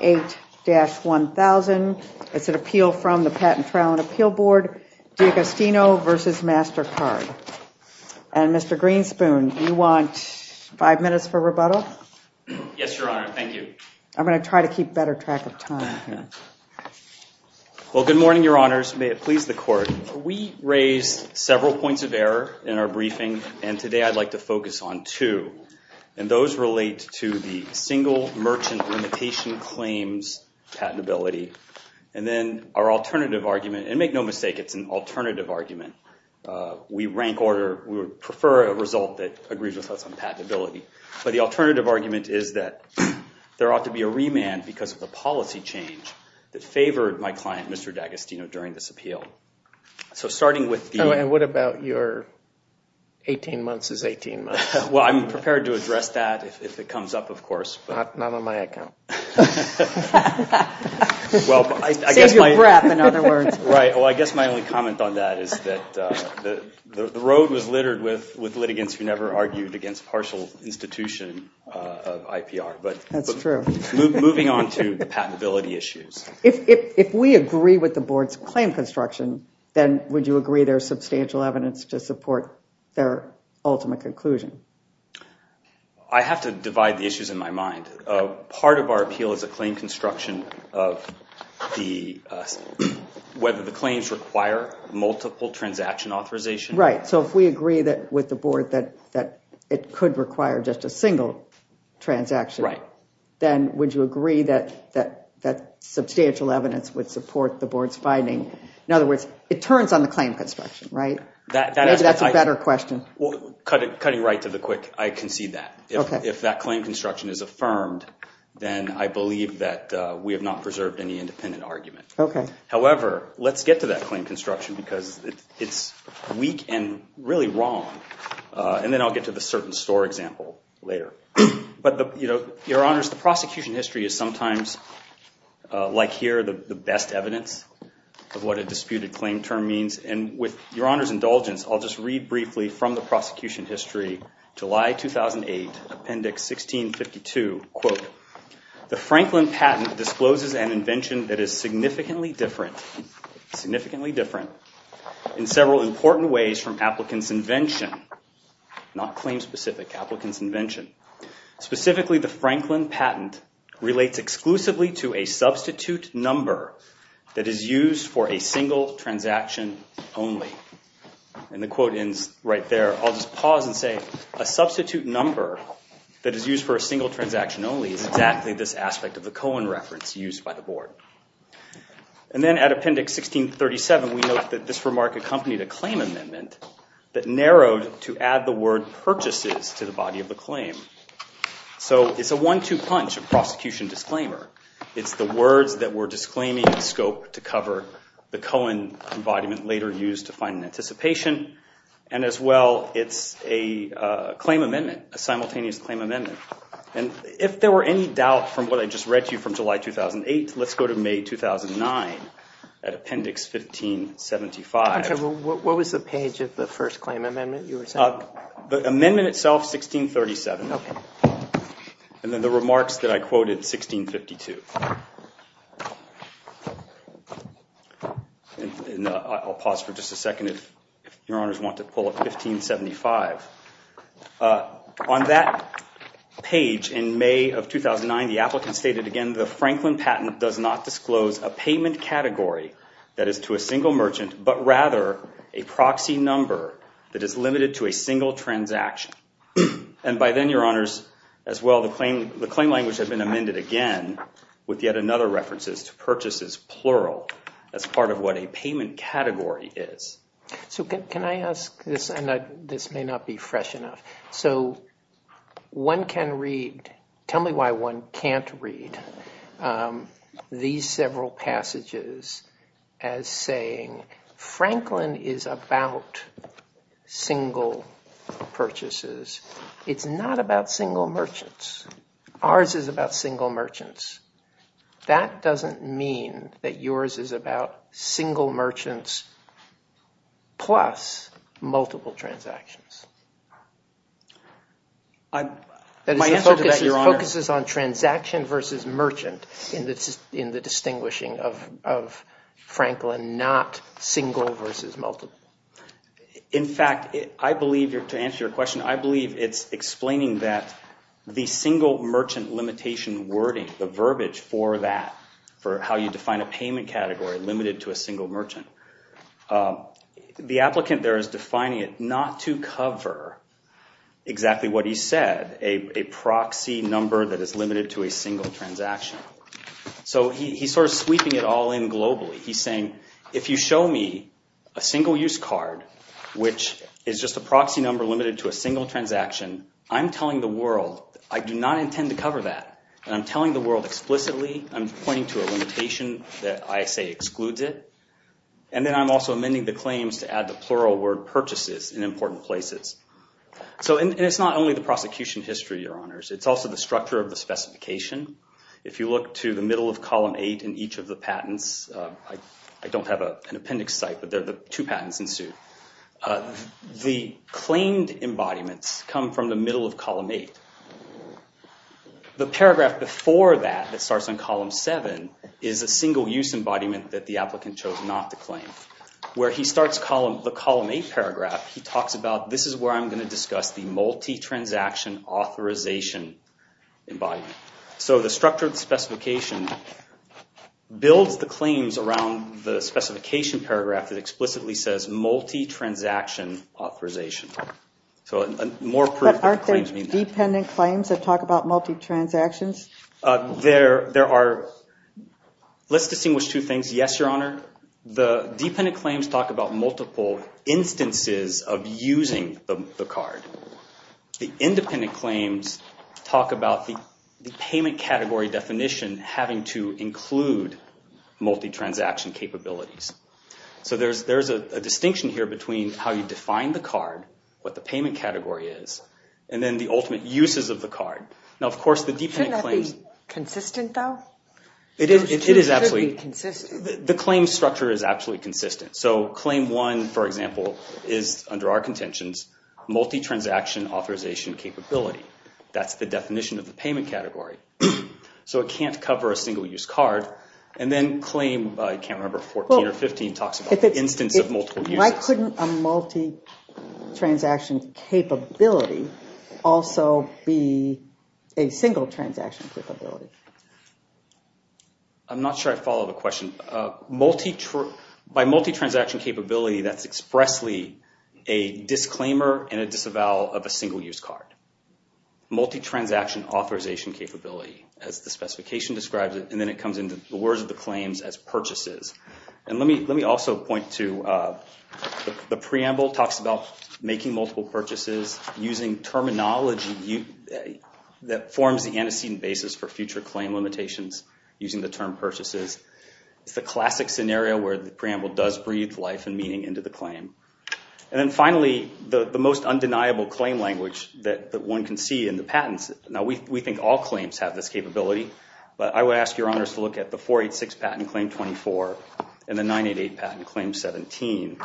It's an appeal from the Patent Trial and Appeal Board, D'Agostino v. MasterCard. And Mr. Greenspoon, do you want five minutes for rebuttal? Yes, Your Honor. Thank you. I'm going to try to keep better track of time. Well, good morning, Your Honors. May it please the Court. We raised several points of error in our briefing, and today I'd like to focus on two. And those relate to the single merchant limitation claims patentability. And then our alternative argument, and make no mistake, it's an alternative argument. We rank order, we prefer a result that agrees with us on patentability. But the alternative argument is that there ought to be a remand because of the policy change that favored my client, Mr. D'Agostino, during this appeal. So starting with the... And what about your 18 months is 18 months? Well, I'm prepared to address that if it comes up, of course. Not on my account. Save your breath, in other words. Right. Well, I guess my only comment on that is that the road was littered with litigants who never argued against partial institution of IPR. That's true. Moving on to patentability issues. If we agree with the Board's claim construction, then would you agree there's substantial evidence to support their ultimate conclusion? I have to divide the issues in my mind. Part of our appeal is a claim construction of whether the claims require multiple transaction authorization. Right. So if we agree with the Board that it could require just a single transaction, then would you agree that substantial evidence would support the Board's finding? In other words, it turns on the claim construction, right? Maybe that's a better question. Cutting right to the quick, I concede that. If that claim construction is affirmed, then I believe that we have not preserved any independent argument. However, let's get to that claim construction because it's weak and really wrong. And then I'll get to the certain store example later. Your Honors, the prosecution history is sometimes, like here, the best evidence of what a disputed claim term means. And with Your Honors' indulgence, I'll just read briefly from the prosecution history, July 2008, Appendix 1652. Quote, the Franklin patent discloses an invention that is significantly different in several important ways from applicants' invention. Not claim-specific, applicants' invention. Specifically, the Franklin patent relates exclusively to a substitute number that is used for a single transaction only. And the quote ends right there. I'll just pause and say, a substitute number that is used for a single transaction only is exactly this aspect of the Cohen reference used by the Board. And then at Appendix 1637, we note that this remark accompanied a claim amendment that narrowed to add the word purchases to the body of the claim. So it's a one-two punch of prosecution disclaimer. It's the words that were disclaiming scope to cover the Cohen embodiment later used to find an anticipation. And as well, it's a claim amendment, a simultaneous claim amendment. And if there were any doubt from what I just read to you from July 2008, let's go to May 2009 at Appendix 1575. Okay, well, what was the page of the first claim amendment you were saying? The amendment itself, 1637. Okay. And then the remarks that I quoted, 1652. I'll pause for just a second if your honors want to pull up 1575. On that page in May of 2009, the applicant stated again, the Franklin patent does not disclose a payment category that is to a single merchant, but rather a proxy number that is limited to a single transaction. And by then, your honors, as well, the claim language had been amended again with yet another reference to purchases plural as part of what a payment category is. So can I ask this? And this may not be fresh enough. So one can read, tell me why one can't read these several passages as saying, Franklin is about single purchases. It's not about single merchants. Ours is about single merchants. That doesn't mean that yours is about single merchants plus multiple transactions. My answer to that, your honors. It focuses on transaction versus merchant in the distinguishing of Franklin, not single versus multiple. In fact, I believe, to answer your question, I believe it's explaining that the single merchant limitation wording, the verbiage for that, for how you define a payment category limited to a single merchant. The applicant there is defining it not to cover exactly what he said, a proxy number that is limited to a single transaction. So he's sort of sweeping it all in globally. He's saying, if you show me a single use card, which is just a proxy number limited to a single transaction, I'm telling the world I do not intend to cover that. And I'm telling the world explicitly. I'm pointing to a limitation that I say excludes it. And then I'm also amending the claims to add the plural word purchases in important places. So it's not only the prosecution history, your honors. It's also the structure of the specification. If you look to the middle of column 8 in each of the patents, I don't have an appendix site, but the two patents ensued. The claimed embodiments come from the middle of column 8. The paragraph before that, that starts on column 7, is a single use embodiment that the applicant chose not to claim. Where he starts the column 8 paragraph, he talks about, this is where I'm going to discuss the multi-transaction authorization embodiment. So the structure of the specification builds the claims around the specification paragraph that explicitly says multi-transaction authorization. So more proof that the claims mean that. But aren't there dependent claims that talk about multi-transactions? There are. Let's distinguish two things. Yes, your honor. The dependent claims talk about multiple instances of using the card. The independent claims talk about the payment category definition having to include multi-transaction capabilities. So there's a distinction here between how you define the card, what the payment category is, and then the ultimate uses of the card. Now, of course, the dependent claims... Shouldn't that be consistent, though? It is absolutely... The claim structure is absolutely consistent. So claim 1, for example, is, under our contentions, multi-transaction authorization capability. That's the definition of the payment category. So it can't cover a single use card. And then claim, I can't remember, 14 or 15 talks about the instance of multiple uses. Why couldn't a multi-transaction capability also be a single transaction capability? I'm not sure I follow the question. By multi-transaction capability, that's expressly a disclaimer and a disavowal of a single use card. Multi-transaction authorization capability, as the specification describes it. And then it comes into the words of the claims as purchases. And let me also point to the preamble. It talks about making multiple purchases using terminology that forms the antecedent basis for future claim limitations using the term purchases. It's the classic scenario where the preamble does breathe life and meaning into the claim. And then finally, the most undeniable claim language that one can see in the patents. I would ask your honors to look at the 486 patent claim 24 and the 988 patent claim 17.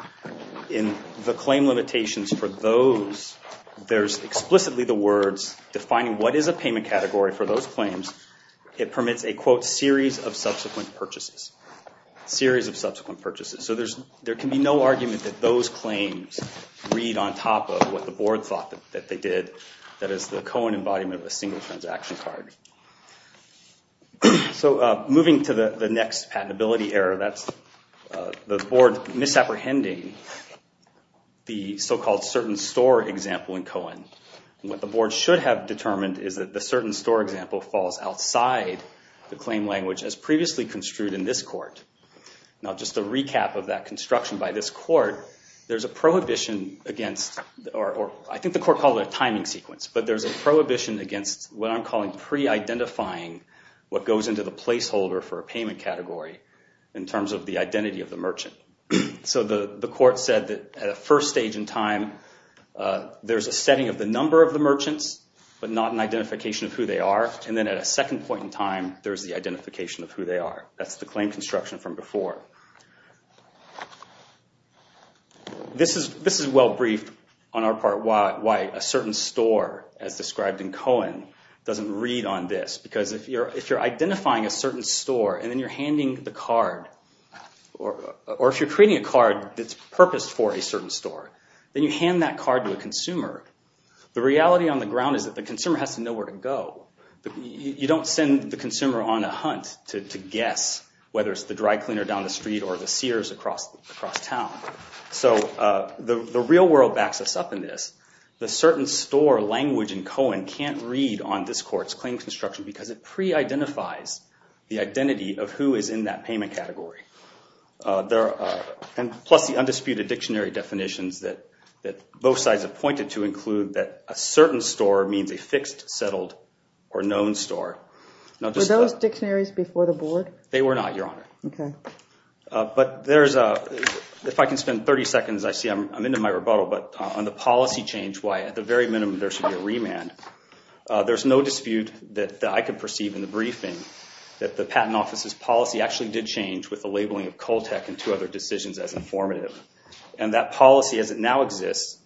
In the claim limitations for those, there's explicitly the words defining what is a payment category for those claims. It permits a, quote, series of subsequent purchases. Series of subsequent purchases. So there can be no argument that those claims read on top of what the board thought that they did. That is the Cohen embodiment of a single transaction card. So moving to the next patentability error, that's the board misapprehending the so-called certain store example in Cohen. What the board should have determined is that the certain store example falls outside the claim language as previously construed in this court. Now just to recap of that construction by this court, there's a prohibition against, or I think the court called it a timing sequence, but there's a prohibition against what I'm calling pre-identifying what goes into the placeholder for a payment category in terms of the identity of the merchant. So the court said that at a first stage in time, there's a setting of the number of the merchants, but not an identification of who they are. And then at a second point in time, there's the identification of who they are. That's the claim construction from before. This is well briefed on our part why a certain store, as described in Cohen, doesn't read on this. Because if you're identifying a certain store and then you're handing the card, or if you're creating a card that's purposed for a certain store, then you hand that card to a consumer. The reality on the ground is that the consumer has to know where to go. You don't send the consumer on a hunt to guess whether it's the dry cleaner down the street or the seers across town. So the real world backs us up in this. The certain store language in Cohen can't read on this court's claim construction because it pre-identifies the identity of who is in that payment category. Plus the undisputed dictionary definitions that both sides have pointed to include that a certain store means a fixed, settled, or known store. Were those dictionaries before the board? They were not, Your Honor. Okay. If I can spend 30 seconds, I see I'm into my rebuttal, but on the policy change, why at the very minimum there should be a remand, there's no dispute that I could perceive in the briefing that the patent office's policy actually did change with the labeling of Coltec and two other decisions as informative. And that policy as it now exists,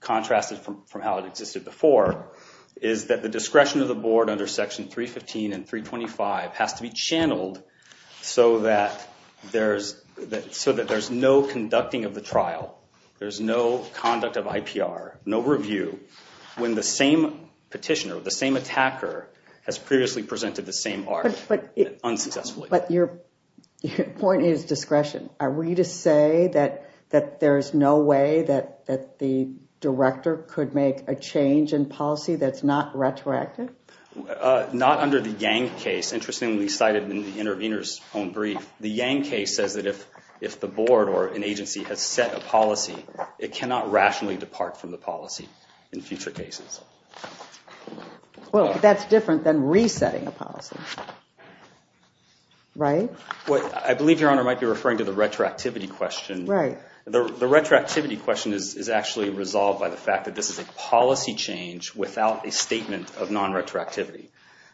contrasted from how it existed before, is that the discretion of the board under Section 315 and 325 has to be channeled so that there's no conducting of the trial. There's no conduct of IPR, no review. When the same petitioner, the same attacker, has previously presented the same art, unsuccessfully. But your point is discretion. Are we to say that there's no way that the director could make a change in policy that's not retroactive? Not under the Yang case. Interestingly cited in the intervener's own brief, the Yang case says that if the board or an agency has set a policy, it cannot rationally depart from the policy. In future cases. Well, that's different than resetting a policy. Right? I believe Your Honor might be referring to the retroactivity question. Right. The retroactivity question is actually resolved by the fact that this is a policy change without a statement of non-retroactivity.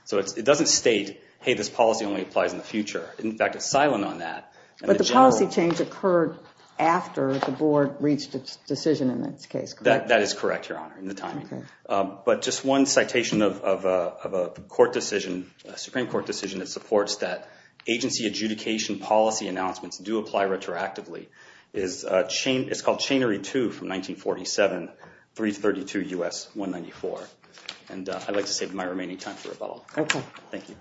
So it doesn't state, hey, this policy only applies in the future. In fact, it's silent on that. But the policy change occurred after the board reached its decision in this case, correct? That is correct, Your Honor, in the timing. But just one citation of a Supreme Court decision that supports that agency adjudication policy announcements do apply retroactively. It's called Chainery 2 from 1947, 332 U.S. 194. And I'd like to save my remaining time for rebuttal. Okay. Thank you.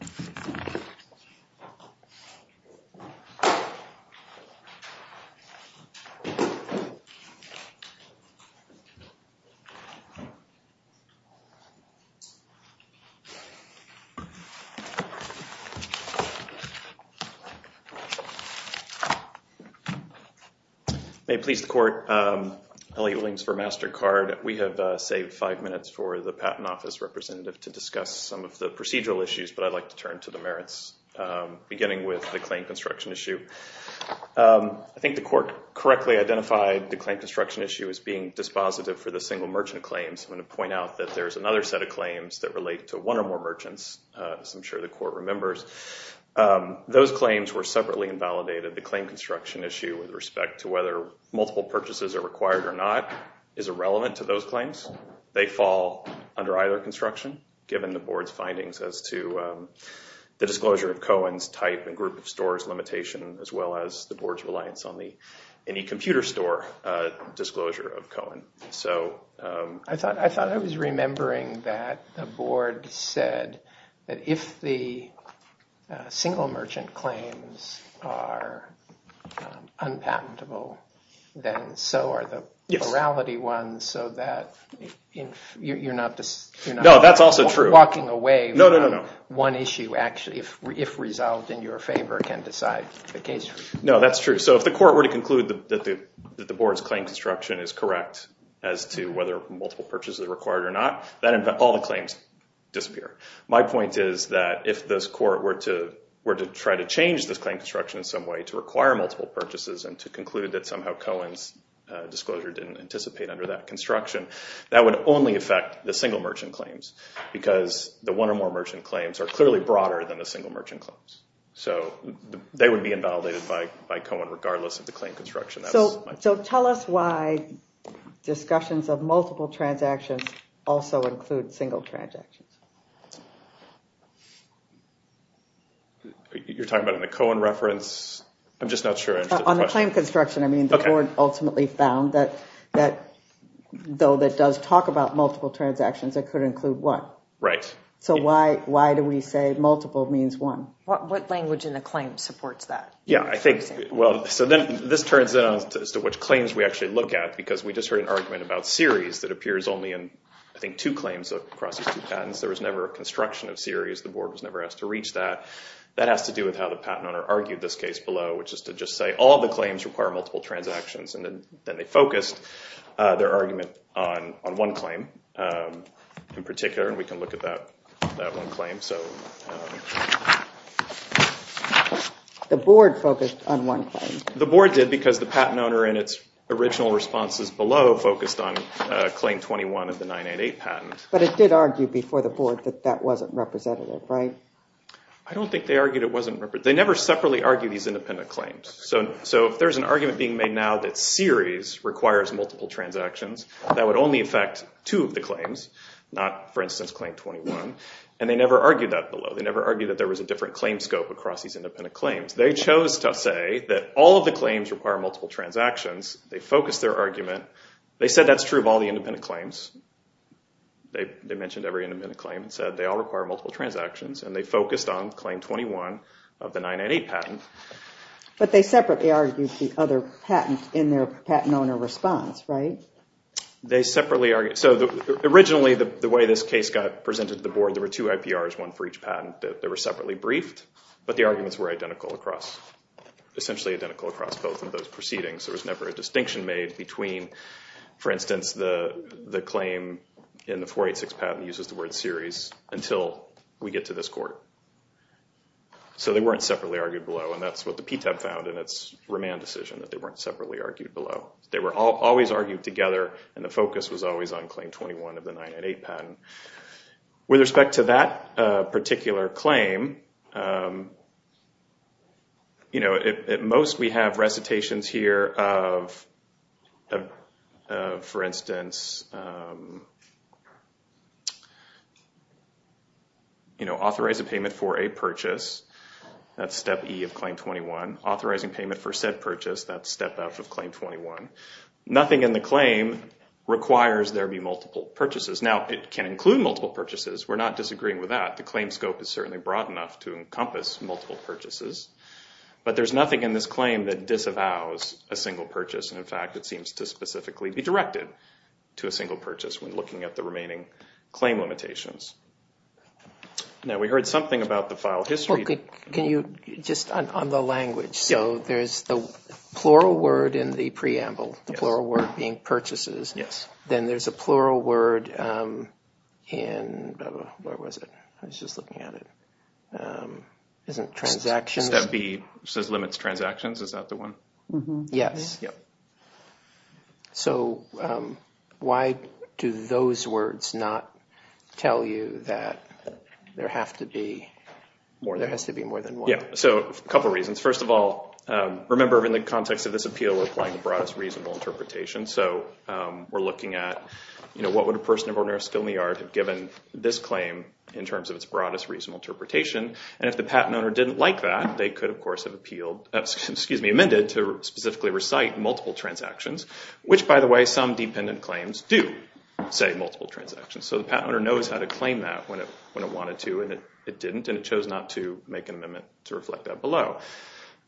May it please the court. Elliot Williams for MasterCard. We have saved five minutes for the Patent Office representative to discuss some of the procedural issues. But I'd like to turn to the merits, beginning with the claim construction issue. I think the court correctly identified the claim construction issue as being dispositive for the single merchant claims. I'm going to point out that there's another set of claims that relate to one or more merchants, as I'm sure the court remembers. Those claims were separately invalidated. The claim construction issue with respect to whether multiple purchases are required or not is irrelevant to those claims. They fall under either construction, given the board's findings as to the disclosure of Cohen's type and group of stores limitation, as well as the board's reliance on any computer store disclosure of Cohen. I thought I was remembering that the board said that if the single merchant claims are unpatentable, then so are the morality ones. So that you're not walking away from one issue, if resolved in your favor, can decide the case. No, that's true. So if the court were to conclude that the board's claim construction is correct as to whether multiple purchases are required or not, then all the claims disappear. My point is that if this court were to try to change this claim construction in some way to require multiple purchases and to conclude that somehow Cohen's disclosure didn't anticipate under that construction, that would only affect the single merchant claims, because the one or more merchant claims are clearly broader than the single merchant claims. So they would be invalidated by Cohen regardless of the claim construction. So tell us why discussions of multiple transactions also include single transactions. You're talking about in the Cohen reference? I'm just not sure. On the claim construction, I mean, the board ultimately found that though that does talk about multiple transactions, it could include one. Right. So why do we say multiple means one? What language in the claim supports that? Yeah, I think, well, so then this turns out as to which claims we actually look at, because we just heard an argument about series that appears only in, I think, two claims across these two patents. There was never a construction of series. The board was never asked to reach that. That has to do with how the patent owner argued this case below, which is to just say all the claims require multiple transactions. And then they focused their argument on one claim in particular, and we can look at that one claim. The board focused on one claim. The board did, because the patent owner in its original responses below focused on claim 21 of the 988 patent. But it did argue before the board that that wasn't representative, right? I don't think they argued it wasn't representative. They never separately argued these independent claims. So if there's an argument being made now that series requires multiple transactions, that would only affect two of the claims, not, for instance, claim 21. And they never argued that below. They never argued that there was a different claim scope across these independent claims. They chose to say that all of the claims require multiple transactions. They focused their argument. They said that's true of all the independent claims. They mentioned every independent claim and said they all require multiple transactions, and they focused on claim 21 of the 988 patent. But they separately argued the other patent in their patent owner response, right? So originally, the way this case got presented to the board, there were two IPRs, one for each patent. They were separately briefed, but the arguments were identical across, essentially identical across both of those proceedings. There was never a distinction made between, for instance, the claim in the 486 patent uses the word series until we get to this court. So they weren't separately argued below, and that's what the PTAB found in its remand decision, that they weren't separately argued below. They were always argued together, and the focus was always on claim 21 of the 988 patent. With respect to that particular claim, you know, at most we have recitations here of, for instance, you know, authorize a payment for a purchase. That's step E of claim 21. Authorizing payment for said purchase, that's step F of claim 21. Nothing in the claim requires there be multiple purchases. Now, it can include multiple purchases. We're not disagreeing with that. The claim scope is certainly broad enough to encompass multiple purchases. But there's nothing in this claim that disavows a single purchase. In fact, it seems to specifically be directed to a single purchase when looking at the remaining claim limitations. Now, we heard something about the file history. Just on the language. So there's the plural word in the preamble, the plural word being purchases. Then there's a plural word in, where was it? I was just looking at it. Isn't it transactions? Step B says limits transactions. Is that the one? Yes. So why do those words not tell you that there has to be more than one? Yeah. So a couple reasons. First of all, remember in the context of this appeal, we're applying the broadest reasonable interpretation. So we're looking at, you know, what would a person of ordinary skill in the art have given this claim in terms of its broadest reasonable interpretation? And if the patent owner didn't like that, they could, of course, have appealed, excuse me, amended to specifically recite multiple transactions. Which, by the way, some dependent claims do say multiple transactions. So the patent owner knows how to claim that when it wanted to and it didn't. And it chose not to make an amendment to reflect that below.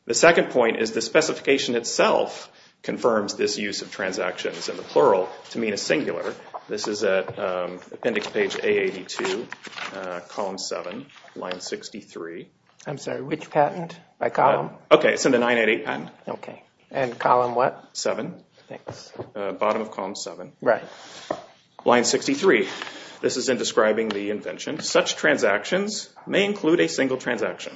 The second point is the specification itself confirms this use of transactions in the plural to mean a singular. This is at appendix page A82, column 7, line 63. I'm sorry. Which patent? By column? Okay. It's in the 988 patent. Okay. And column what? 7. Thanks. Bottom of column 7. Right. Line 63. This is in describing the invention. Such transactions may include a single transaction.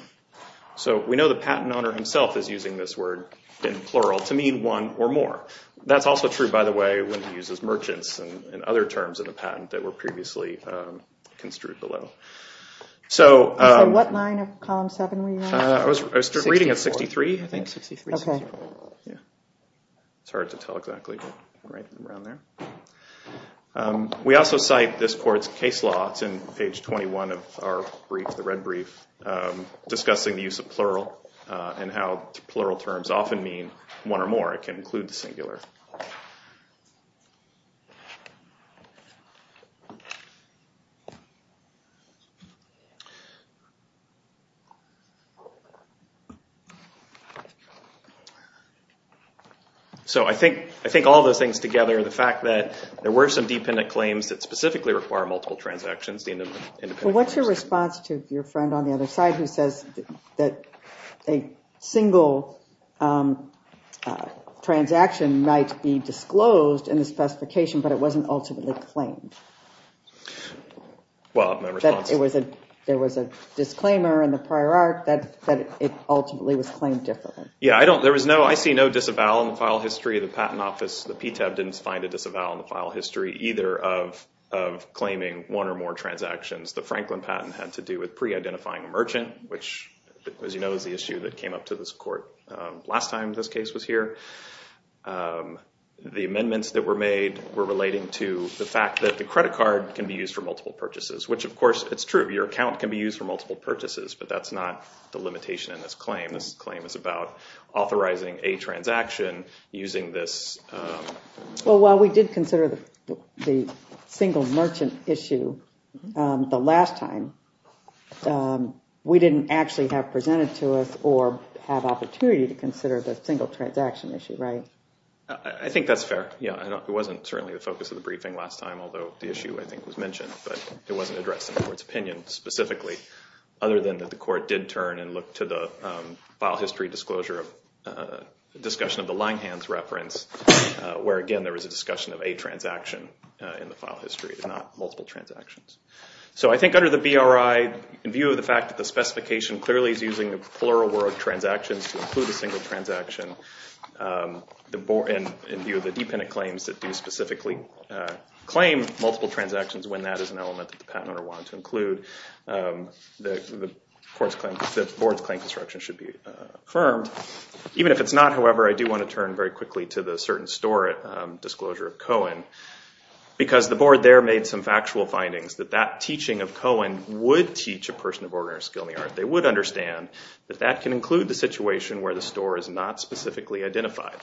So we know the patent owner himself is using this word in plural to mean one or more. That's also true, by the way, when he uses merchants and other terms in the patent that were previously construed below. So what line of column 7 were you on? I was reading at 63, I think. 63, 64. Okay. Yeah. It's hard to tell exactly, but right around there. We also cite this court's case law. It's in page 21 of our brief, the red brief, discussing the use of plural and how plural terms often mean one or more. It can include the singular. So I think all those things together, the fact that there were some dependent claims that specifically require multiple transactions. Well, what's your response to your friend on the other side who says that a single transaction might be disclosed in the specification, but it wasn't ultimately claimed? Well, my response is. There was a disclaimer in the prior art that it ultimately was claimed differently. Yeah. I see no disavowal in the file history of the Patent Office. The PTAB didn't find a disavowal in the file history either of claiming one or more transactions. The Franklin patent had to do with pre-identifying a merchant, which, as you know, is the issue that came up to this court last time this case was here. The amendments that were made were relating to the fact that the credit card can be used for multiple purchases, which, of course, it's true. Your account can be used for multiple purchases, but that's not the limitation in this claim. This claim is about authorizing a transaction using this. Well, while we did consider the single merchant issue the last time, we didn't actually have presented to us or have opportunity to consider the single transaction issue, right? I think that's fair. Yeah, it wasn't certainly the focus of the briefing last time, although the issue, I think, was mentioned, but it wasn't addressed in the court's opinion specifically, other than that the court did turn and look to the file history disclosure of discussion of the Langhans reference, where, again, there was a discussion of a transaction in the file history, not multiple transactions. So I think under the BRI, in view of the fact that the specification clearly is using the plural word transactions to include a single transaction, and in view of the dependent claims that do specifically claim multiple transactions, when that is an element that the patent owner wanted to include, the board's claim construction should be affirmed. Even if it's not, however, I do want to turn very quickly to the certain store disclosure of Cohen, because the board there made some factual findings that that teaching of Cohen would teach a person of ordinary skill in the art. They would understand that that can include the situation where the store is not specifically identified.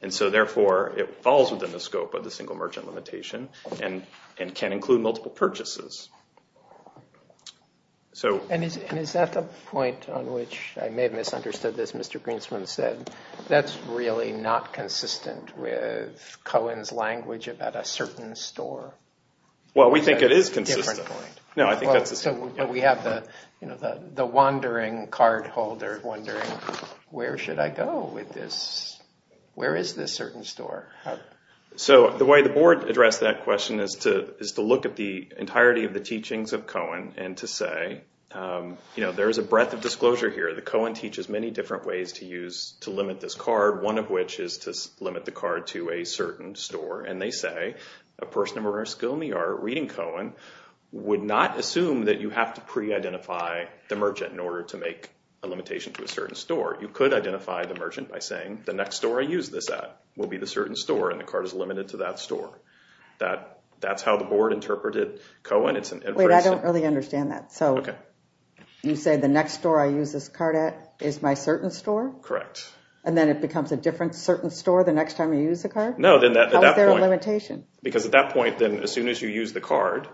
And so, therefore, it falls within the scope of the single merchant limitation and can include multiple purchases. And is that the point on which, I may have misunderstood this, Mr. Greenspan said, that's really not consistent with Cohen's language about a certain store? Well, we think it is consistent. Different point. No, I think that's the same. But we have the wandering card holder wondering, where should I go with this? Where is this certain store? So the way the board addressed that question is to look at the entirety of the teachings of Cohen and to say, there is a breadth of disclosure here that Cohen teaches many different ways to limit this card, one of which is to limit the card to a certain store. And they say a person of ordinary skill in the art reading Cohen would not assume that you have to pre-identify the merchant in order to make a limitation to a certain store. You could identify the merchant by saying, the next store I use this at will be the certain store, and the card is limited to that store. That's how the board interpreted Cohen. Wait, I don't really understand that. So you say the next store I use this card at is my certain store? Correct. And then it becomes a different certain store the next time you use the card? No. How is there a limitation? Because at that point, as soon as you use the card,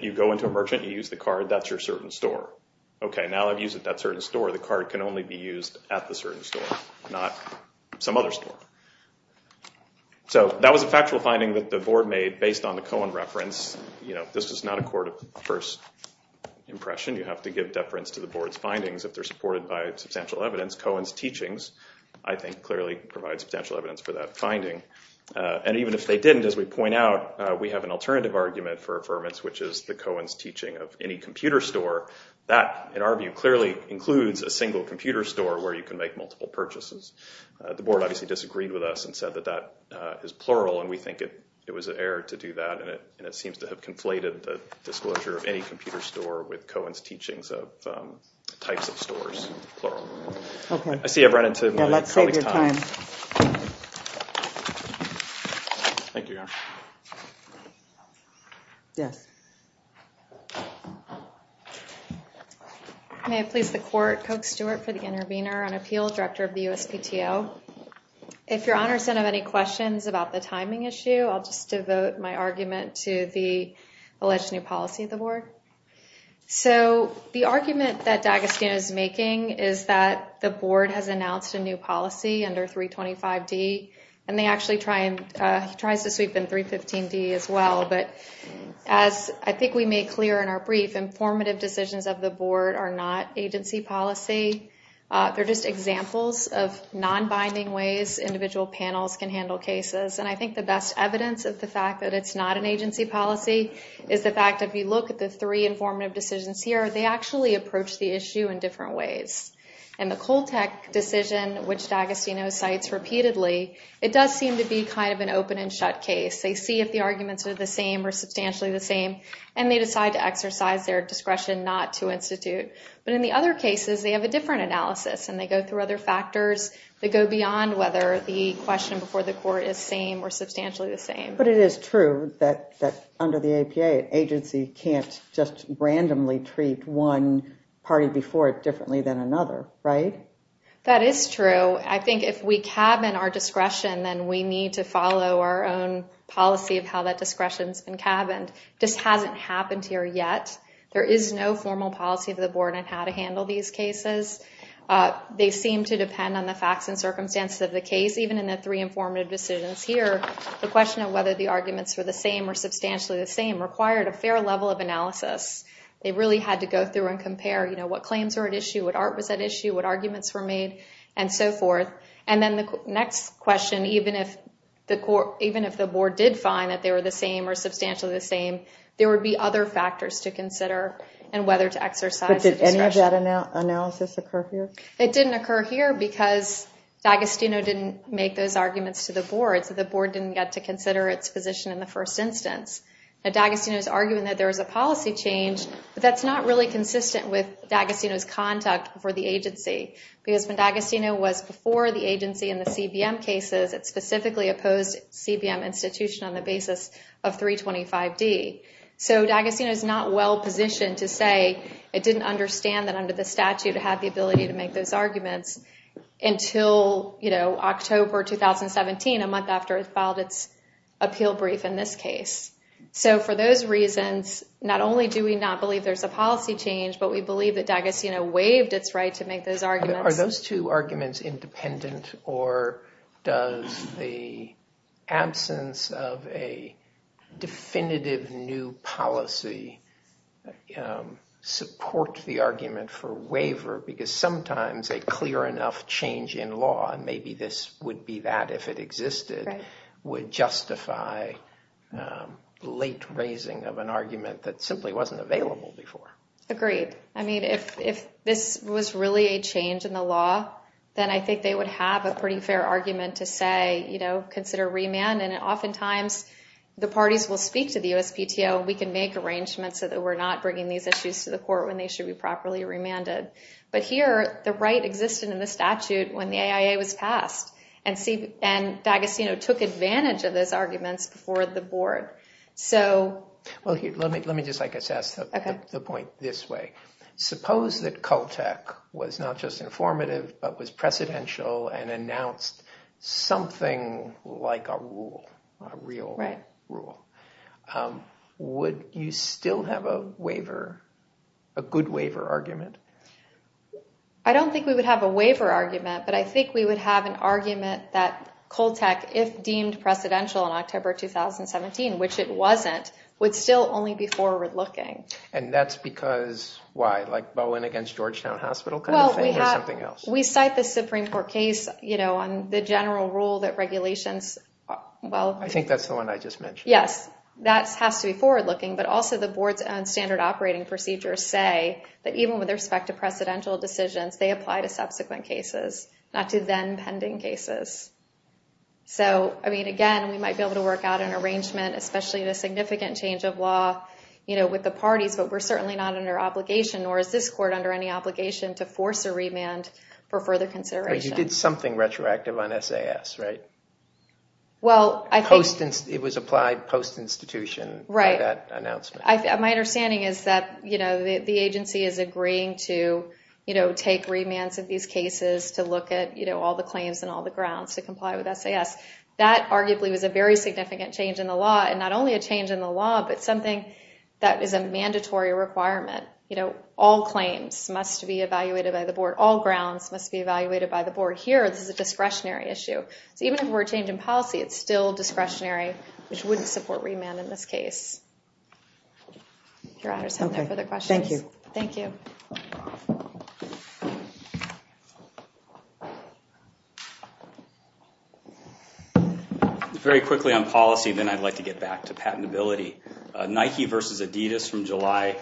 you go into a merchant, you use the card, that's your certain store. Okay, now that I've used it at that certain store, the card can only be used at the certain store, not some other store. So that was a factual finding that the board made based on the Cohen reference. This was not a court of first impression. You have to give deference to the board's findings if they're supported by substantial evidence. Cohen's teachings, I think, clearly provide substantial evidence for that finding. And even if they didn't, as we point out, we have an alternative argument for affirmance, which is the Cohen's teaching of any computer store. That, in our view, clearly includes a single computer store where you can make multiple purchases. The board obviously disagreed with us and said that that is plural, and we think it was an error to do that, and it seems to have conflated the disclosure of any computer store with Cohen's teachings of types of stores, plural. Okay. I see I've run into my colleague's time. Yeah, let's save your time. Thank you, Your Honor. Yes. May it please the court, Coke Stewart for the intervener on appeal, director of the USPTO. If Your Honor's don't have any questions about the timing issue, I'll just devote my argument to the alleged new policy of the board. So the argument that D'Agostino is making is that the board has announced a new policy under 325D, and they actually try to sweep in 315D as well. But as I think we made clear in our brief, informative decisions of the board are not agency policy. They're just examples of non-binding ways individual panels can handle cases, and I think the best evidence of the fact that it's not an agency policy is the fact that if you look at the three informative decisions here, they actually approach the issue in different ways. In the Coltec decision, which D'Agostino cites repeatedly, it does seem to be kind of an open and shut case. They see if the arguments are the same or substantially the same, and they decide to exercise their discretion not to institute. But in the other cases, they have a different analysis, and they go through other factors that go beyond whether the question before the court is same or substantially the same. But it is true that under the APA, an agency can't just randomly treat one party before it differently than another, right? That is true. I think if we cabin our discretion, then we need to follow our own policy of how that discretion's been cabined. This hasn't happened here yet. There is no formal policy of the board on how to handle these cases. They seem to depend on the facts and circumstances of the case. Even in the three informative decisions here, the question of whether the arguments were the same or substantially the same required a fair level of analysis. They really had to go through and compare what claims were at issue, what art was at issue, what arguments were made, and so forth. And then the next question, even if the board did find that they were the same or substantially the same, there would be other factors to consider in whether to exercise the discretion. But did any of that analysis occur here? It didn't occur here because D'Agostino didn't make those arguments to the board, so the board didn't get to consider its position in the first instance. D'Agostino is arguing that there is a policy change, but that's not really consistent with D'Agostino's conduct for the agency. Because when D'Agostino was before the agency in the CBM cases, it specifically opposed CBM institution on the basis of 325D. So D'Agostino is not well positioned to say it didn't understand that under the statute it had the ability to make those arguments until October 2017, a month after it filed its appeal brief in this case. So for those reasons, not only do we not believe there's a policy change, but we believe that D'Agostino waived its right to make those arguments. Are those two arguments independent, or does the absence of a definitive new policy support the argument for waiver? Because sometimes a clear enough change in law, and maybe this would be that if it existed, would justify late raising of an argument that simply wasn't available before. Agreed. I mean, if this was really a change in the law, then I think they would have a pretty fair argument to say, you know, consider remand. And oftentimes the parties will speak to the USPTO, we can make arrangements so that we're not bringing these issues to the court when they should be properly remanded. But here, the right existed in the statute when the AIA was passed, and D'Agostino took advantage of those arguments before the board. Well, let me just assess the point this way. Suppose that Coltec was not just informative, but was precedential and announced something like a rule, a real rule. Would you still have a good waiver argument? I don't think we would have a waiver argument, but I think we would have an argument that Coltec, if deemed precedential in October 2017, which it wasn't, would still only be forward-looking. And that's because, why? Like Boeing against Georgetown Hospital kind of thing, or something else? Well, we cite the Supreme Court case, you know, on the general rule that regulations... I think that's the one I just mentioned. Yes, that has to be forward-looking, but also the board's own standard operating procedures say that even with respect to precedential decisions, they apply to subsequent cases, not to then-pending cases. So, I mean, again, we might be able to work out an arrangement, especially in a significant change of law with the parties, but we're certainly not under obligation, nor is this court under any obligation to force a remand for further consideration. But you did something retroactive on SAS, right? Well, I think... It was applied post-institution for that announcement. Right. My understanding is that, you know, the agency is agreeing to, you know, take remands of these cases to look at, you know, all the claims and all the grounds to comply with SAS. That, arguably, was a very significant change in the law, and not only a change in the law, but something that is a mandatory requirement. You know, all claims must be evaluated by the board. All grounds must be evaluated by the board. Here, this is a discretionary issue. So even if we're changing policy, it's still discretionary, which wouldn't support remand in this case. If your honors have no further questions. Okay. Thank you. Thank you. Very quickly on policy, then I'd like to get back to patentability. Nike versus Adidas from July...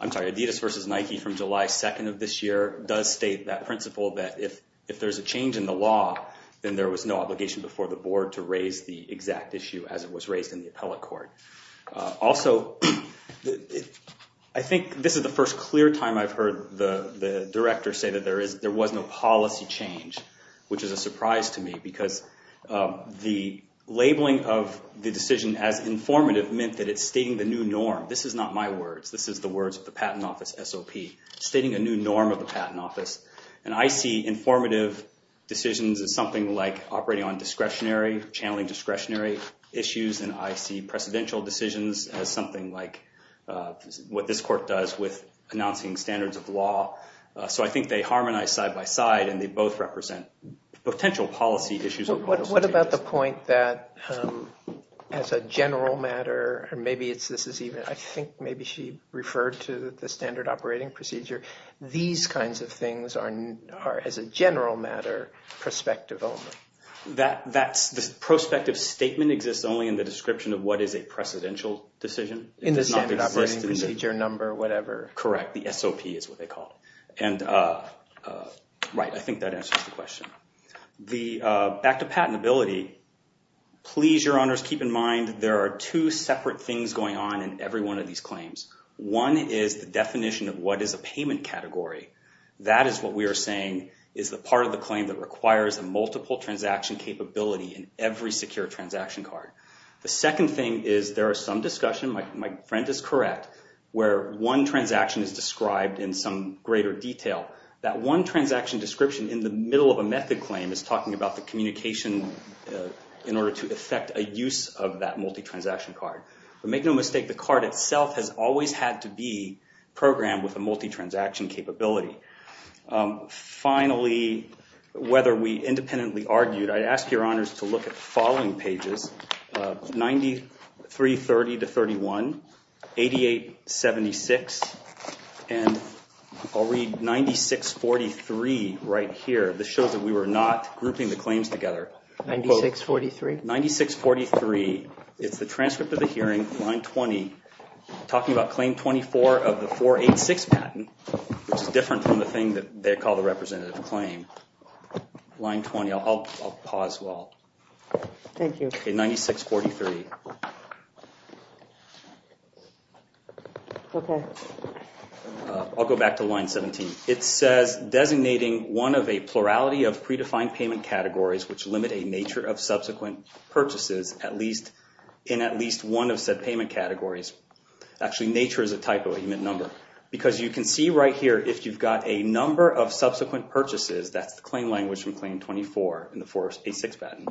I'm sorry, Adidas versus Nike from July 2nd of this year does state that principle that if there's a change in the law, then there was no obligation before the board to raise the exact issue as it was raised in the appellate court. Also, I think this is the first clear time I've heard the director say that there was no policy change, which is a surprise to me, because the labeling of the decision as informative meant that it's stating the new norm. This is not my words. This is the words of the Patent Office SOP, stating a new norm of the Patent Office. And I see informative decisions as something like operating on discretionary, channeling discretionary issues. And I see precedential decisions as something like what this court does with announcing standards of law. So I think they harmonize side by side, and they both represent potential policy issues. What about the point that as a general matter, or maybe this is even... I think maybe she referred to the standard operating procedure. These kinds of things are as a general matter, prospective only. The prospective statement exists only in the description of what is a precedential decision. In the standard operating procedure number, whatever. Correct. The SOP is what they call it. And I think that answers the question. Back to patentability. Please, your honors, keep in mind there are two separate things going on in every one of these claims. One is the definition of what is a payment category. That is what we are saying is the part of the claim that requires a multiple transaction capability in every secure transaction card. The second thing is there is some discussion, my friend is correct, where one transaction is described in some greater detail. That one transaction description in the middle of a method claim is talking about the communication in order to effect a use of that multi-transaction card. But make no mistake, the card itself has always had to be programmed with a multi-transaction capability. Finally, whether we independently argued, I ask your honors to look at the following pages. 9330-31, 8876, and I'll read 9643 right here. This shows that we were not grouping the claims together. 9643? 9643. It's the transcript of the hearing, line 20, talking about claim 24 of the 486 patent, which is different from the thing that they call the representative claim. Line 20, I'll pause while. Thank you. 9643. I'll go back to line 17. It says, designating one of a plurality of predefined payment categories which limit a nature of subsequent purchases in at least one of said payment categories. Actually, nature is a typo, you meant number. Because you can see right here, if you've got a number of subsequent purchases, that's the claim language from claim 24 in the 486 patent,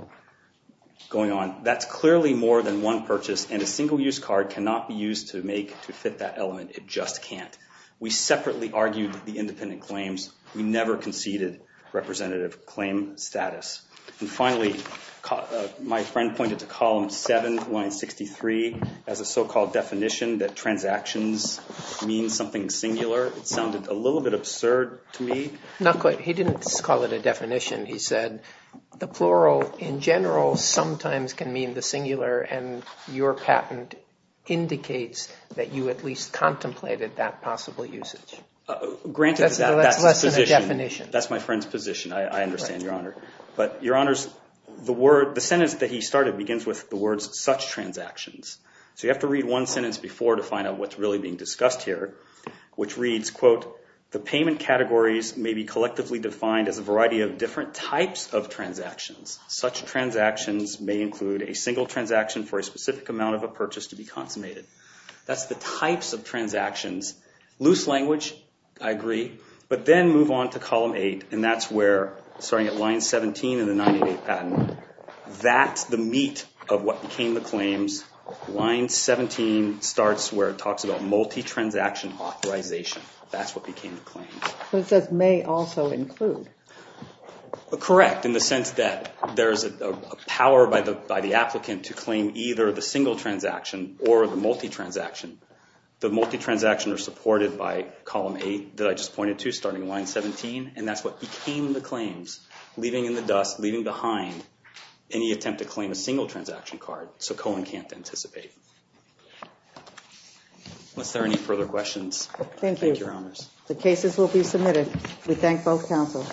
going on. That's clearly more than one purchase, and a single-use card cannot be used to make, to fit that element. It just can't. We separately argued the independent claims. We never conceded representative claim status. And finally, my friend pointed to column 7, line 63, as a so-called definition that transactions mean something singular. It sounded a little bit absurd to me. Not quite. He didn't call it a definition. He said the plural, in general, sometimes can mean the singular, and your patent indicates that you at least contemplated that possible usage. Granted, that's the position. That's less than a definition. That's my friend's position. I understand, Your Honor. But, Your Honors, the sentence that he started begins with the words, such transactions. So you have to read one sentence before to find out what's really being discussed here, which reads, quote, the payment categories may be collectively defined as a variety of different types of transactions. Such transactions may include a single transaction for a specific amount of a purchase to be consummated. That's the types of transactions. Loose language. I agree. But then move on to column 8, and that's where, starting at line 17 in the 988 patent, that's the meat of what became the claims. Line 17 starts where it talks about multi-transaction authorization. That's what became the claim. So it says may also include. Correct, in the sense that there's a power by the applicant to claim either the single transaction or the multi-transaction. The multi-transaction are supported by column 8 that I just pointed to, starting line 17, and that's what became the claims, leaving in the dust, leaving behind any attempt to claim a single transaction card. So Cohen can't anticipate. Unless there are any further questions. Thank you. Thank you, Your Honors. The cases will be submitted. We thank both counsel.